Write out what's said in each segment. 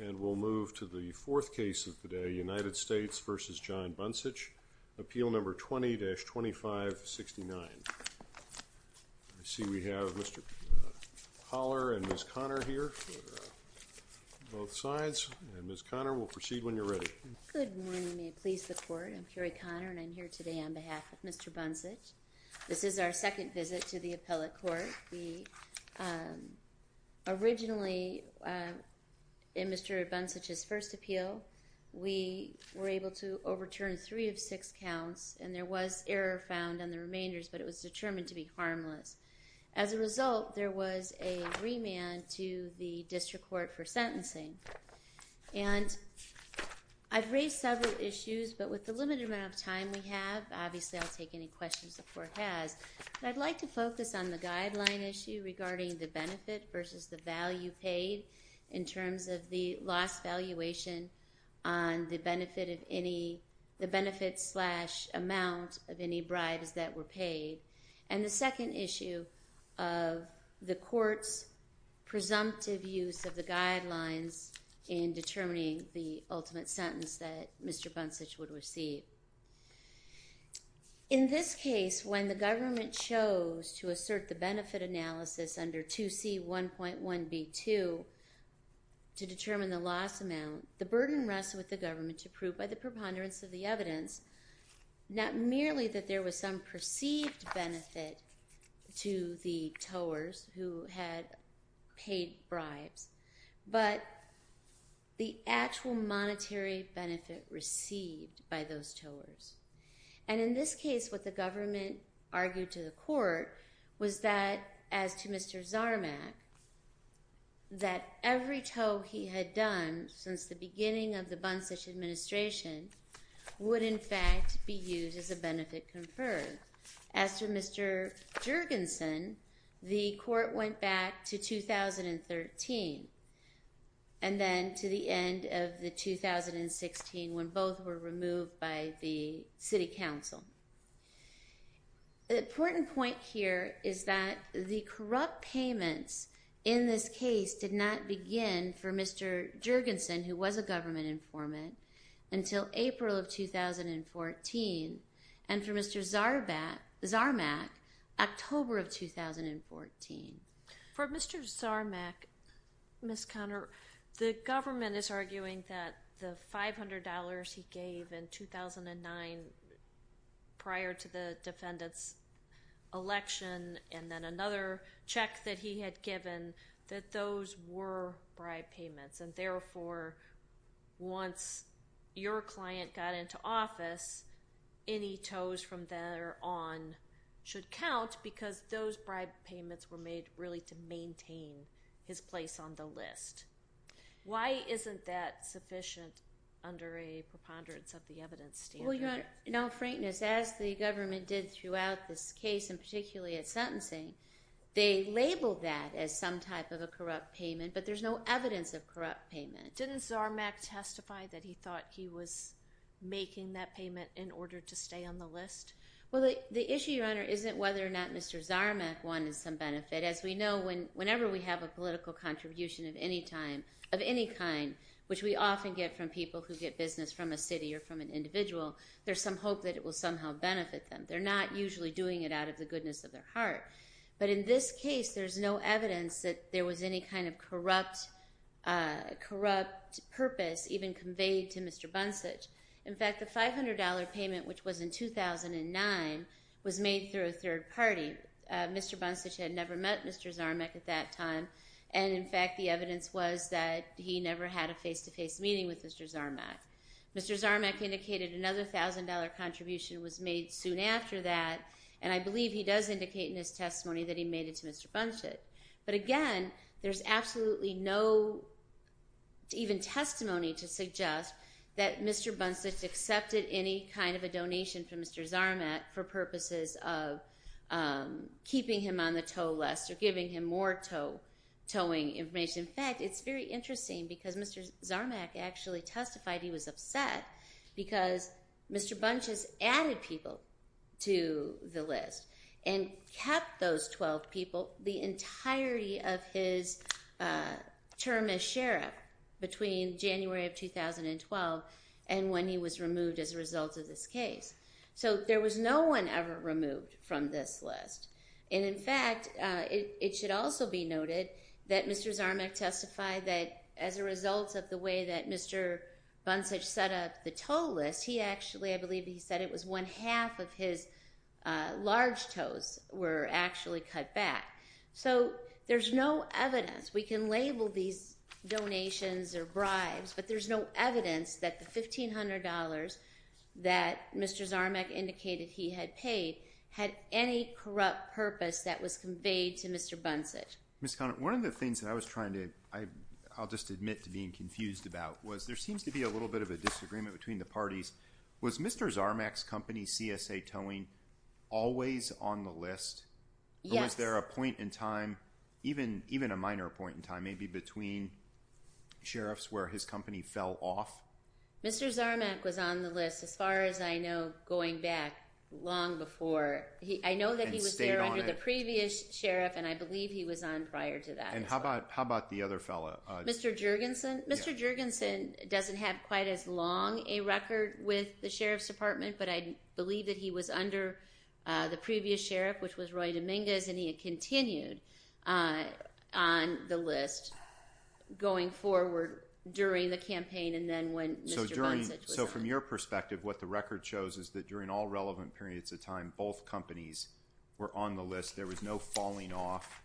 And we'll move to the fourth case of the day, United States v. John Buncich, appeal number 20-2569. I see we have Mr. Holler and Ms. Conner here, both sides. And Ms. Conner, we'll proceed when you're ready. Good morning, and may it please the Court. I'm Curie Conner, and I'm here today on behalf of Mr. Buncich. This is our second visit to the Appellate Court. We originally in Mr. Buncich's first appeal, we were able to overturn three of six counts, and there was error found on the remainders, but it was determined to be harmless. As a result, there was a remand to the District Court for sentencing. And I've raised several issues, but with the limited amount of time we have, obviously I'll take any questions the Court has. I'd like to focus on the first issue, which is the penalty in terms of the lost valuation on the benefit of any...the benefit slash amount of any bribes that were paid, and the second issue of the Court's presumptive use of the guidelines in determining the ultimate sentence that Mr. Buncich would receive. In this case, when the government chose to assert the benefit analysis under 2C1.1b2, to determine the lost amount, the burden rests with the government to prove by the preponderance of the evidence, not merely that there was some perceived benefit to the towers who had paid bribes, but the actual monetary benefit received by those towers. And in this case, what the government argued to the Court was that, as to Mr. Zarmack, that every tow he had done since the beginning of the Buncich administration would, in fact, be used as a benefit conferred. As to Mr. Jurgensen, the Court went back to 2013, and then to the end of the 2016, when both were removed by the City Council. The important point here is that the corrupt payments in this case did not begin for Mr. Jurgensen, who was a government informant, until April of 2014, and for Mr. Zarmack, October of 2014. For Mr. Zarmack, Ms. Conner, the government is arguing that the $500 he gave in 2009, prior to the defendant's election, and then another check that he had given, that those were bribe payments, and therefore, once your client got into office, any tows from there on should count, because those bribe payments were made really to maintain his place on the list. Why isn't that known frankness, as the government did throughout this case, and particularly at sentencing? They labeled that as some type of a corrupt payment, but there's no evidence of corrupt payment. Didn't Zarmack testify that he thought he was making that payment in order to stay on the list? Well, the issue, Your Honor, isn't whether or not Mr. Zarmack wanted some benefit. As we know, whenever we have a political contribution of any kind, which we often get from people who get business from a city or from an individual, there's some hope that it will somehow benefit them. They're not usually doing it out of the goodness of their heart. But in this case, there's no evidence that there was any kind of corrupt purpose even conveyed to Mr. Buntzich. In fact, the $500 payment, which was in 2009, was made through a third party. Mr. Buntzich had never met Mr. Zarmack at that time, and in fact, the evidence was that he never had a face-to-face meeting with Mr. Zarmack. Mr. Zarmack indicated another $1,000 contribution was made soon after that, and I believe he does indicate in his testimony that he made it to Mr. Buntzich. But again, there's absolutely no even testimony to suggest that Mr. Buntzich accepted any kind of a donation from Mr. Zarmack for purposes of keeping him on the toll list or giving him more towing information. In fact, it's very interesting because Mr. Buntzich was upset because Mr. Buntzich added people to the list and kept those 12 people the entirety of his term as sheriff between January of 2012 and when he was removed as a result of this case. So there was no one ever removed from this list. And in fact, it should also be noted that Mr. Zarmack testified that as a result of the way that Mr. Buntzich set up the toll list, he actually, I believe he said it was one half of his large tows were actually cut back. So there's no evidence, we can label these donations or bribes, but there's no evidence that the $1,500 that Mr. Zarmack indicated he had paid had any corrupt purpose that was conveyed to Mr. Buntzich. Ms. Conant, one of the things that I was trying to, I'll just admit to being confused about, was there seems to be a little bit of a disagreement between the parties. Was Mr. Zarmack's company, CSA Towing, always on the list? Or was there a point in time, even a minor point in time, maybe between sheriffs where his company fell off? Mr. Zarmack was on the list as far as I know, going back long before. I know that he was there under the previous sheriff and I believe he was on prior to that. And how about the other fellow? Mr. Jergensen? Mr. Jergensen doesn't have quite as long a record with the Sheriff's Department, but I believe that he was under the previous sheriff, which was Roy Dominguez, and he had continued on the list going forward during the campaign and then when Mr. Buntzich was on. So from your perspective, what the record shows is that during all relevant periods of time, both companies were on the list, there was no falling off,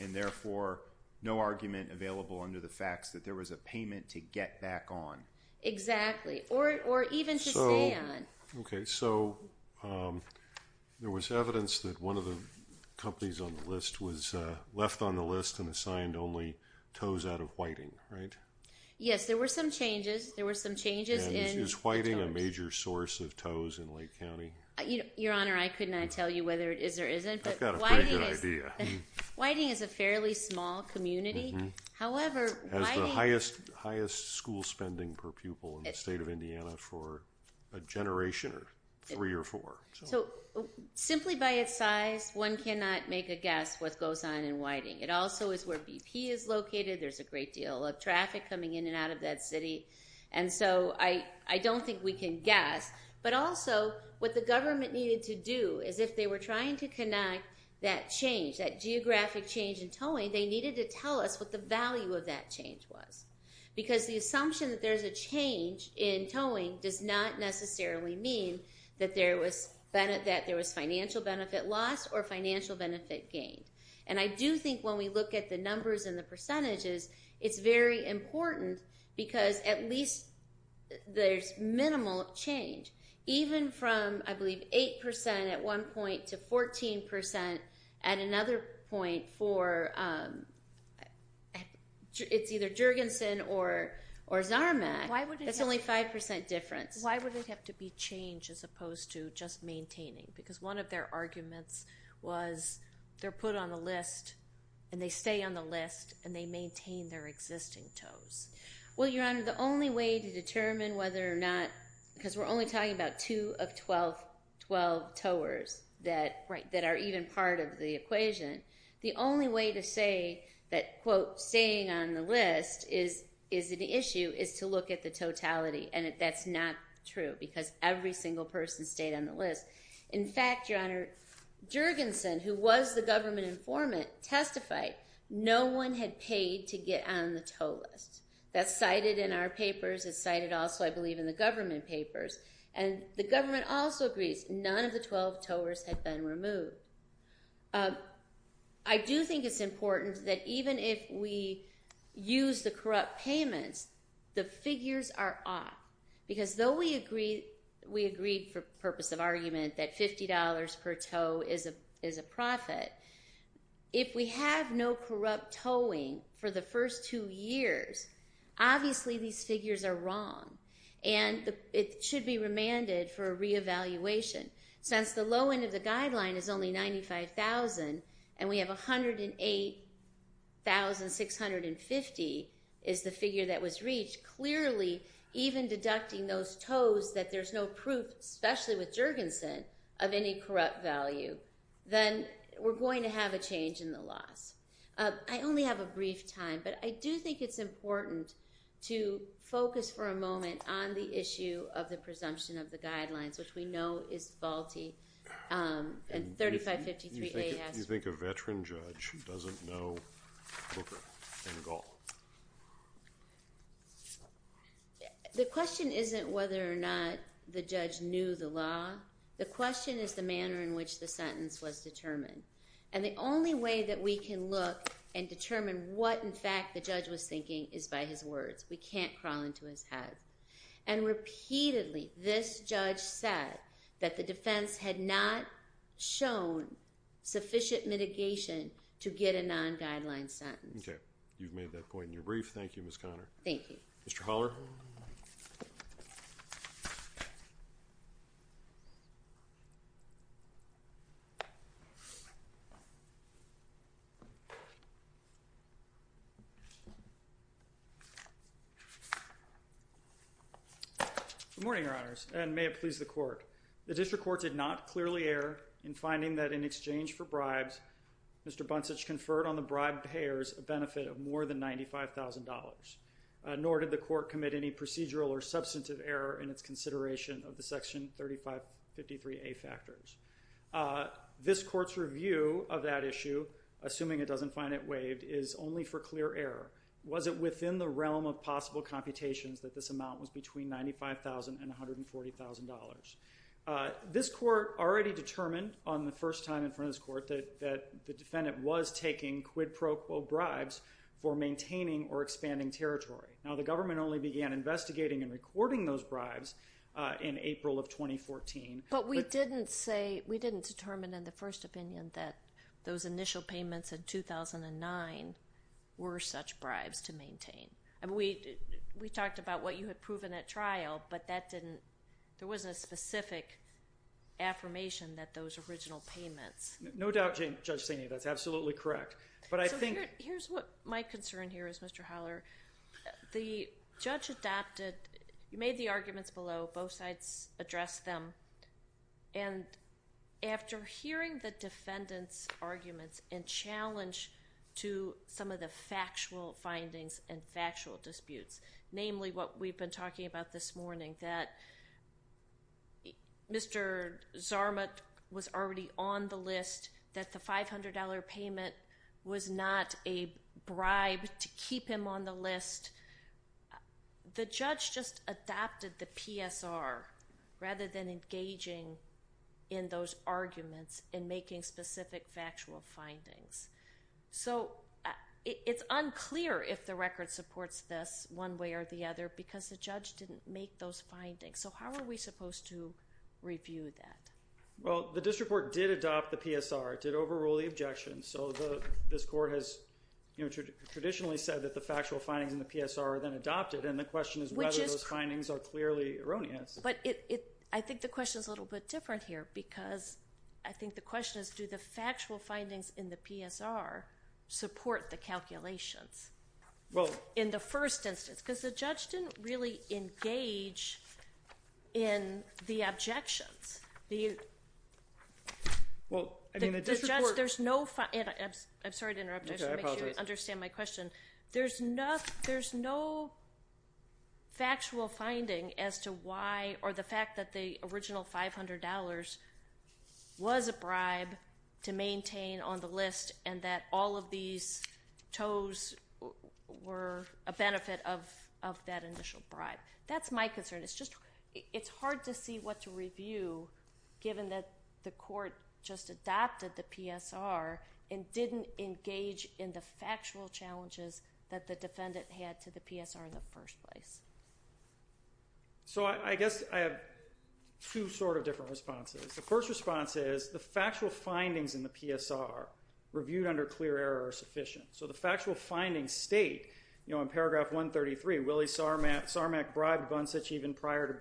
and therefore no argument available under the facts that there was a payment to get back on. Exactly, or even to stay on. Okay, so there was evidence that one of the companies on the list was left on the list and assigned only tows out of Whiting, right? Yes, there were some changes, there were some changes. And is Whiting a major source of tows in Lake Whiting is a fairly small community, however, it has the highest school spending per pupil in the state of Indiana for a generation or three or four. So simply by its size, one cannot make a guess what goes on in Whiting. It also is where BP is located, there's a great deal of traffic coming in and out of that city, and so I don't think we can guess, but also what the government needed to do is if they were trying to connect that change, that geographic change in towing, they needed to tell us what the value of that change was. Because the assumption that there's a change in towing does not necessarily mean that there was financial benefit loss or financial benefit gain. And I do think when we look at the numbers and the percentages, it's very important because at least there's minimal change. Even from, I believe, 8% at one point to 14% at another point for it's either Jurgensen or Zarmack, it's only 5% difference. Why would it have to be change as opposed to just maintaining? Because one of their arguments was they're put on the list and they stay on the list and they maintain their because we're only talking about 2 of 12 towers that are even part of the equation. The only way to say that, quote, staying on the list is an issue is to look at the totality and that's not true because every single person stayed on the list. In fact, Your Honor, Jurgensen, who was the government informant, testified no one had paid to get on the tow list. That's cited in our papers, it's in the government papers. And the government also agrees none of the 12 towers had been removed. I do think it's important that even if we use the corrupt payments, the figures are off because though we agreed for purpose of argument that $50 per tow is a profit, if we have no corrupt towing for the first two years, obviously these figures are wrong and it should be remanded for a re-evaluation. Since the low end of the guideline is only $95,000 and we have $108,650 is the figure that was reached, clearly even deducting those tows that there's no proof, especially with Jurgensen, of any corrupt value, then we're going to have a change in the laws. I only have a brief time but I do think it's important to focus for a moment on the issue of the presumption of the guidelines which we know is faulty and 3553A has... Do you think a veteran judge doesn't know Booker and Gall? The question isn't whether or not the judge knew the law. The question is the manner in which the sentence was determined. The only way that we can look and determine what in fact the judge was thinking is by his words. We can't crawl into his head. Repeatedly, this judge said that the defense had not shown sufficient mitigation to get a non-guideline sentence. Okay. You've made that point in your brief. Thank you, Ms. Conner. Thank you. Mr. Haller? Good morning, Your Honors, and may it please the Court. The District Court did not clearly err in finding that in exchange for bribes, Mr. Buntzich conferred on the substantive error in its consideration of the section 3553A factors. This Court's review of that issue, assuming it doesn't find it waived, is only for clear error. Was it within the realm of possible computations that this amount was between $95,000 and $140,000? This Court already determined on the first time in front of this Court that the defendant was taking quid pro quo bribes for maintaining or expanding territory. Now, the government only began investigating and recording those bribes in April of 2014. But we didn't say, we didn't determine in the first opinion that those initial payments in 2009 were such bribes to maintain. I mean, we talked about what you had proven at trial, but that didn't, there wasn't a specific affirmation that those original payments. No doubt, Judge Saini, that's absolutely correct. But I think... Here's what my concern here is, Mr. Holler. The judge adopted, made the arguments below, both sides addressed them, and after hearing the defendant's arguments and challenge to some of the factual findings and factual disputes, namely what we've been talking about this morning, that Mr. Zarmut was already on the list, that the $500 payment was not a bribe to keep him on the list. The judge just adopted the PSR rather than engaging in those arguments and making specific factual findings. So, it's unclear if the record supports this one way or the other, because the judge didn't make those findings. So, how are we supposed to review that? Well, the district court did adopt the PSR, did overrule the objections. So, this court has traditionally said that the factual findings in the PSR are then adopted, and the question is whether those findings are clearly erroneous. But I think the question is a little bit different here, because I think the question is, do the factual findings in the PSR support the calculations in the first instance? Because the judge didn't really engage in the objections, did he? Well, I mean, the district court... The judge, there's no... I'm sorry to interrupt. I just want to make sure you understand my question. There's no factual finding as to why, or the fact that the original $500 was a bribe to maintain on the list, and that all of these toes were a benefit of that initial bribe. That's my concern. It's just, it's hard to see what to review, given that the court just adopted the PSR and didn't engage in the factual challenges that the defendant had to the PSR in the first place. So, I guess I have two sort of different responses. The first response is, the factual findings in the PSR, reviewed under clear error, are sufficient. So, the factual findings state, you know, in paragraph 133, Willie Sarmack bribed Bunsich even prior to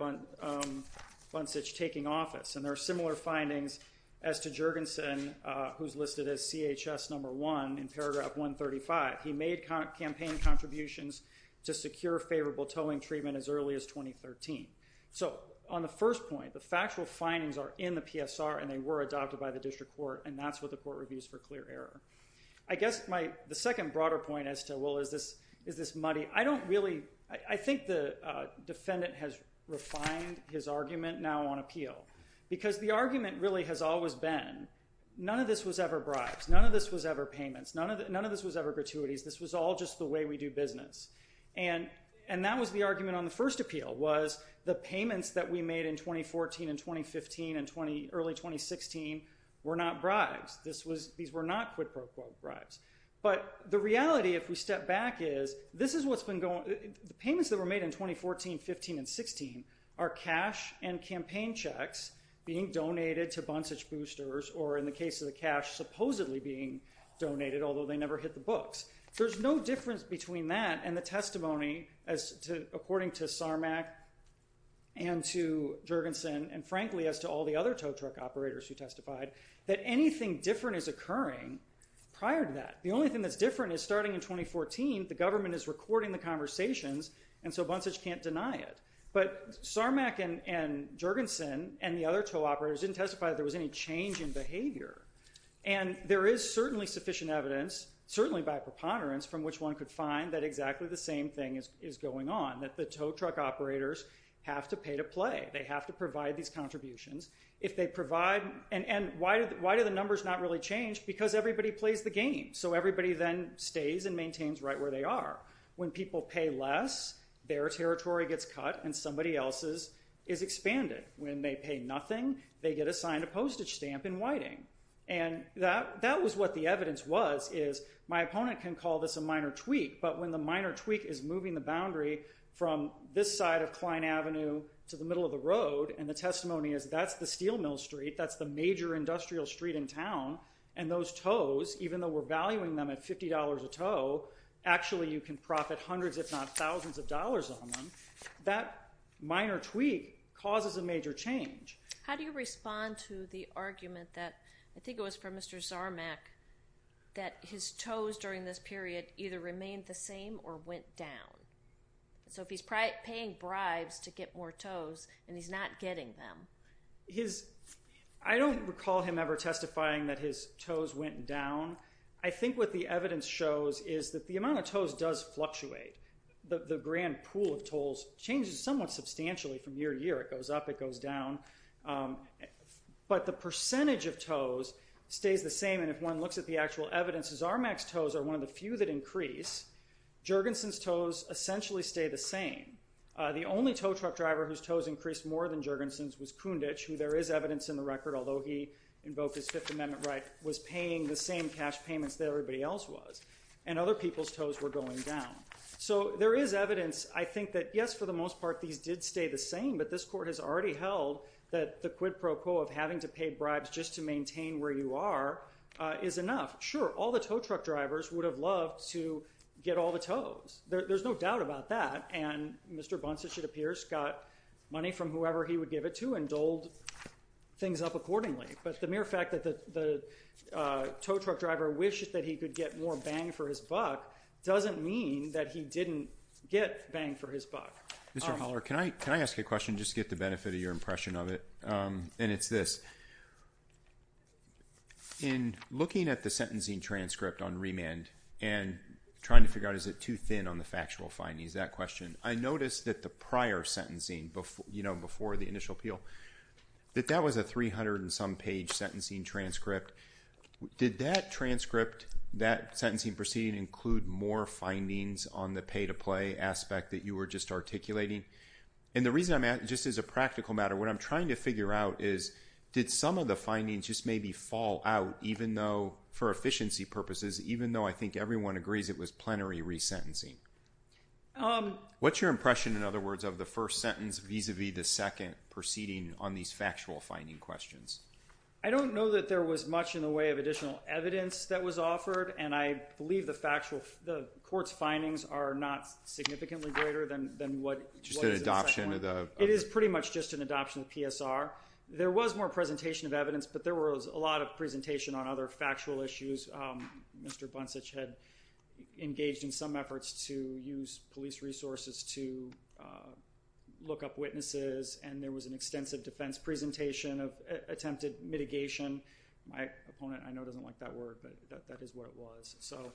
Bunsich taking office. And there are similar findings as to Jurgensen, who's listed as CHS number one in paragraph 135. He made campaign contributions to secure favorable towing treatment as early as 2013. So, on the first point, the factual findings are in the PSR, and they were adopted by the district court, and that's what the court reviews for clear error. I guess the second broader point as to, well, is this muddy? I don't really, I think the defendant has refined his argument now on appeal, because the argument really has always been, none of this was ever bribes, none of this was ever payments, none of this was ever gratuities, this was all just the way we do business. And that was the argument on the first appeal, was the payments that we made in 2014 and 2015 and early 2016 were not bribes. This was, these were not quid pro quo bribes. But the reality, if we step back, is this is what's been going, the payments that were made in 2014, 15, and 16 are cash and campaign checks being donated to Bunsage Boosters, or in the case of the cash, supposedly being donated, although they never hit the books. There's no difference between that and the testimony as to, according to Sarmac and to Jurgensen, and frankly as to all the other tow truck operators who testified, that anything different is occurring prior to that. The only thing that's different is starting in 2014, the government is recording the conversations, and so Bunsage can't deny it. But Sarmac and Jurgensen and the other tow operators didn't testify that there was any change in behavior. And there is certainly sufficient evidence, certainly by preponderance, from which one could find that exactly the same thing is going on, that the tow truck operators have to pay to play. They have to provide these contributions. If they provide, and why do the numbers not really change? Because everybody plays the game. So everybody then stays and maintains right where they are. When people pay less, their territory gets cut and somebody else's is expanded. When they pay nothing, they get assigned a postage stamp in Whiting. And that was what the evidence was, is my opponent can call this a minor tweak, but when the minor tweak is moving the boundary from this side of Kline Avenue to the middle of the road, and the testimony is that's the steel mill street, that's the major focus, even though we're valuing them at $50 a tow, actually you can profit hundreds if not thousands of dollars on them, that minor tweak causes a major change. How do you respond to the argument that, I think it was from Mr. Sarmac, that his toes during this period either remained the same or went down? So if he's paying bribes to get more toes and he's not getting them. I don't recall him ever testifying that his toes went down. I think what the evidence shows is that the amount of toes does fluctuate. The grand pool of toes changes somewhat substantially from year to year. It goes up, it goes down. But the percentage of toes stays the same. And if one looks at the actual evidence, Sarmac's toes are one of the few that increase. Jergensen's toes essentially stay the same. The only tow truck driver whose toes increased more than Kundich, who there is evidence in the record, although he invoked his Fifth Amendment right, was paying the same cash payments that everybody else was. And other people's toes were going down. So there is evidence, I think, that yes, for the most part, these did stay the same, but this court has already held that the quid pro quo of having to pay bribes just to maintain where you are is enough. Sure, all the tow truck drivers would have loved to get all the toes. There's no doubt about that. And Mr. Bunce, it should appear, got money from whoever he would give it to and doled things up accordingly. But the mere fact that the tow truck driver wished that he could get more bang for his buck doesn't mean that he didn't get bang for his buck. Mr. Holler, can I ask you a question just to get the benefit of your impression of it? And it's this. In looking at the sentencing transcript on remand and trying to figure out is it too thin on the factual findings, that question, I noticed that the prior sentencing, before the initial appeal, that that was a 300 and some page sentencing transcript. Did that transcript, that sentencing proceeding, include more findings on the pay-to-play aspect that you were just articulating? And the reason I'm asking, just as a practical matter, what I'm trying to figure out is did some of the findings just maybe fall out even though, for efficiency purposes, even though I think everyone agrees it was plenary resentencing? What's your sense vis-a-vis the second proceeding on these factual finding questions? I don't know that there was much in the way of additional evidence that was offered and I believe the factual, the court's findings are not significantly greater than what... Just an adoption of the... It is pretty much just an adoption of PSR. There was more presentation of evidence but there was a lot of presentation on other factual issues. Mr. Buntzich had engaged in some efforts to use police resources to look up witnesses and there was an extensive defense presentation of attempted mitigation. My opponent, I know, doesn't like that word but that is what it was. So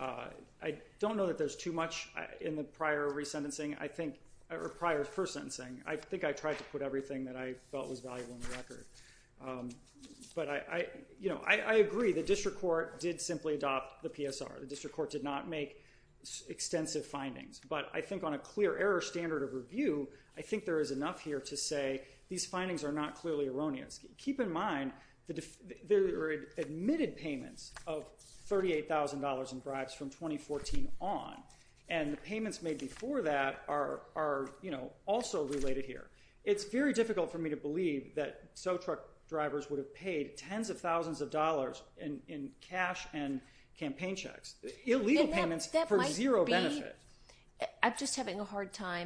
I don't know that there's too much in the prior resentencing, I think, or prior first sentencing. I think I tried to put everything that I felt was valuable in the record. But I, you know, I agree the district court did simply adopt the PSR. The district court did not make extensive findings. But I think on a clear error standard of review, I think there is enough here to say these findings are not clearly erroneous. Keep in mind the admitted payments of $38,000 in bribes from 2014 on and the payments made before that are, you know, also related here. It's very difficult for me to believe that SoTruck drivers would have paid tens of thousands of dollars in cash and hard time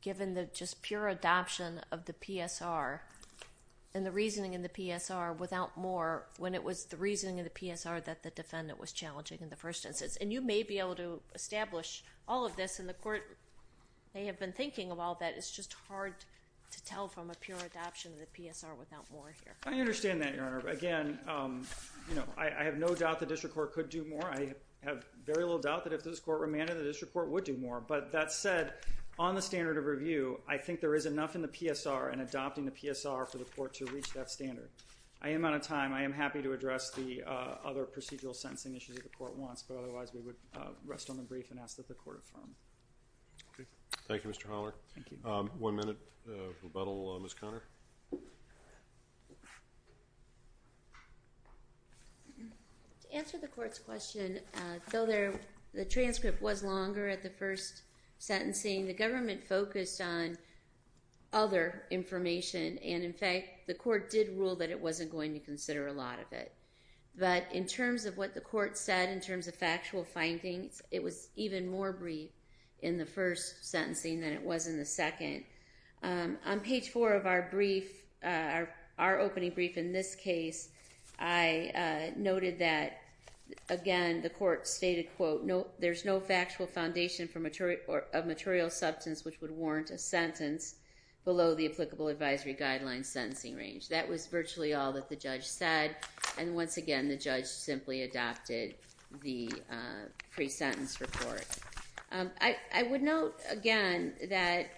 given the just pure adoption of the PSR and the reasoning in the PSR without more when it was the reasoning of the PSR that the defendant was challenging in the first instance. And you may be able to establish all of this and the court may have been thinking of all that. It's just hard to tell from a pure adoption of the PSR without more here. I understand that, Your Honor. Again, you know, I have no doubt the district court could do more. I have very little doubt that if this court remanded, the district court would do more. But that said, on the standard of review, I think there is enough in the PSR and adopting the PSR for the court to reach that standard. I am out of time. I am happy to address the other procedural sentencing issues that the court wants, but otherwise we would rest on the brief and ask that the court affirm. Thank you, Mr. Holler. One minute rebuttal, Ms. Conner. To answer the court's question, though the transcript was longer at the first sentencing, the government focused on other information and, in fact, the court did rule that it wasn't going to consider a lot of it. But in terms of what the court said, in terms of factual findings, it was even more brief in the first sentencing than it was in the second. On page four of our brief, our opening brief in this case, I noted that, again, the court stated, quote, there's no factual foundation of material substance which would warrant a sentence below the applicable advisory guideline sentencing range. That was virtually all that the judge said. And once again, the judge simply adopted the sentence report. I would note, again, that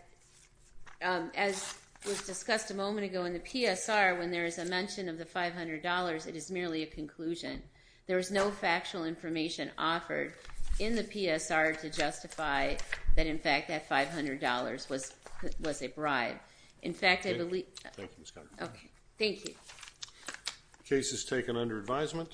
as was discussed a moment ago in the PSR, when there is a mention of the $500, it is merely a conclusion. There is no factual information offered in the PSR to justify that, in fact, that $500 was a bribe. In fact, I believe... Thank you, Ms. Conner. Okay, thank you. Case is taken under advisement.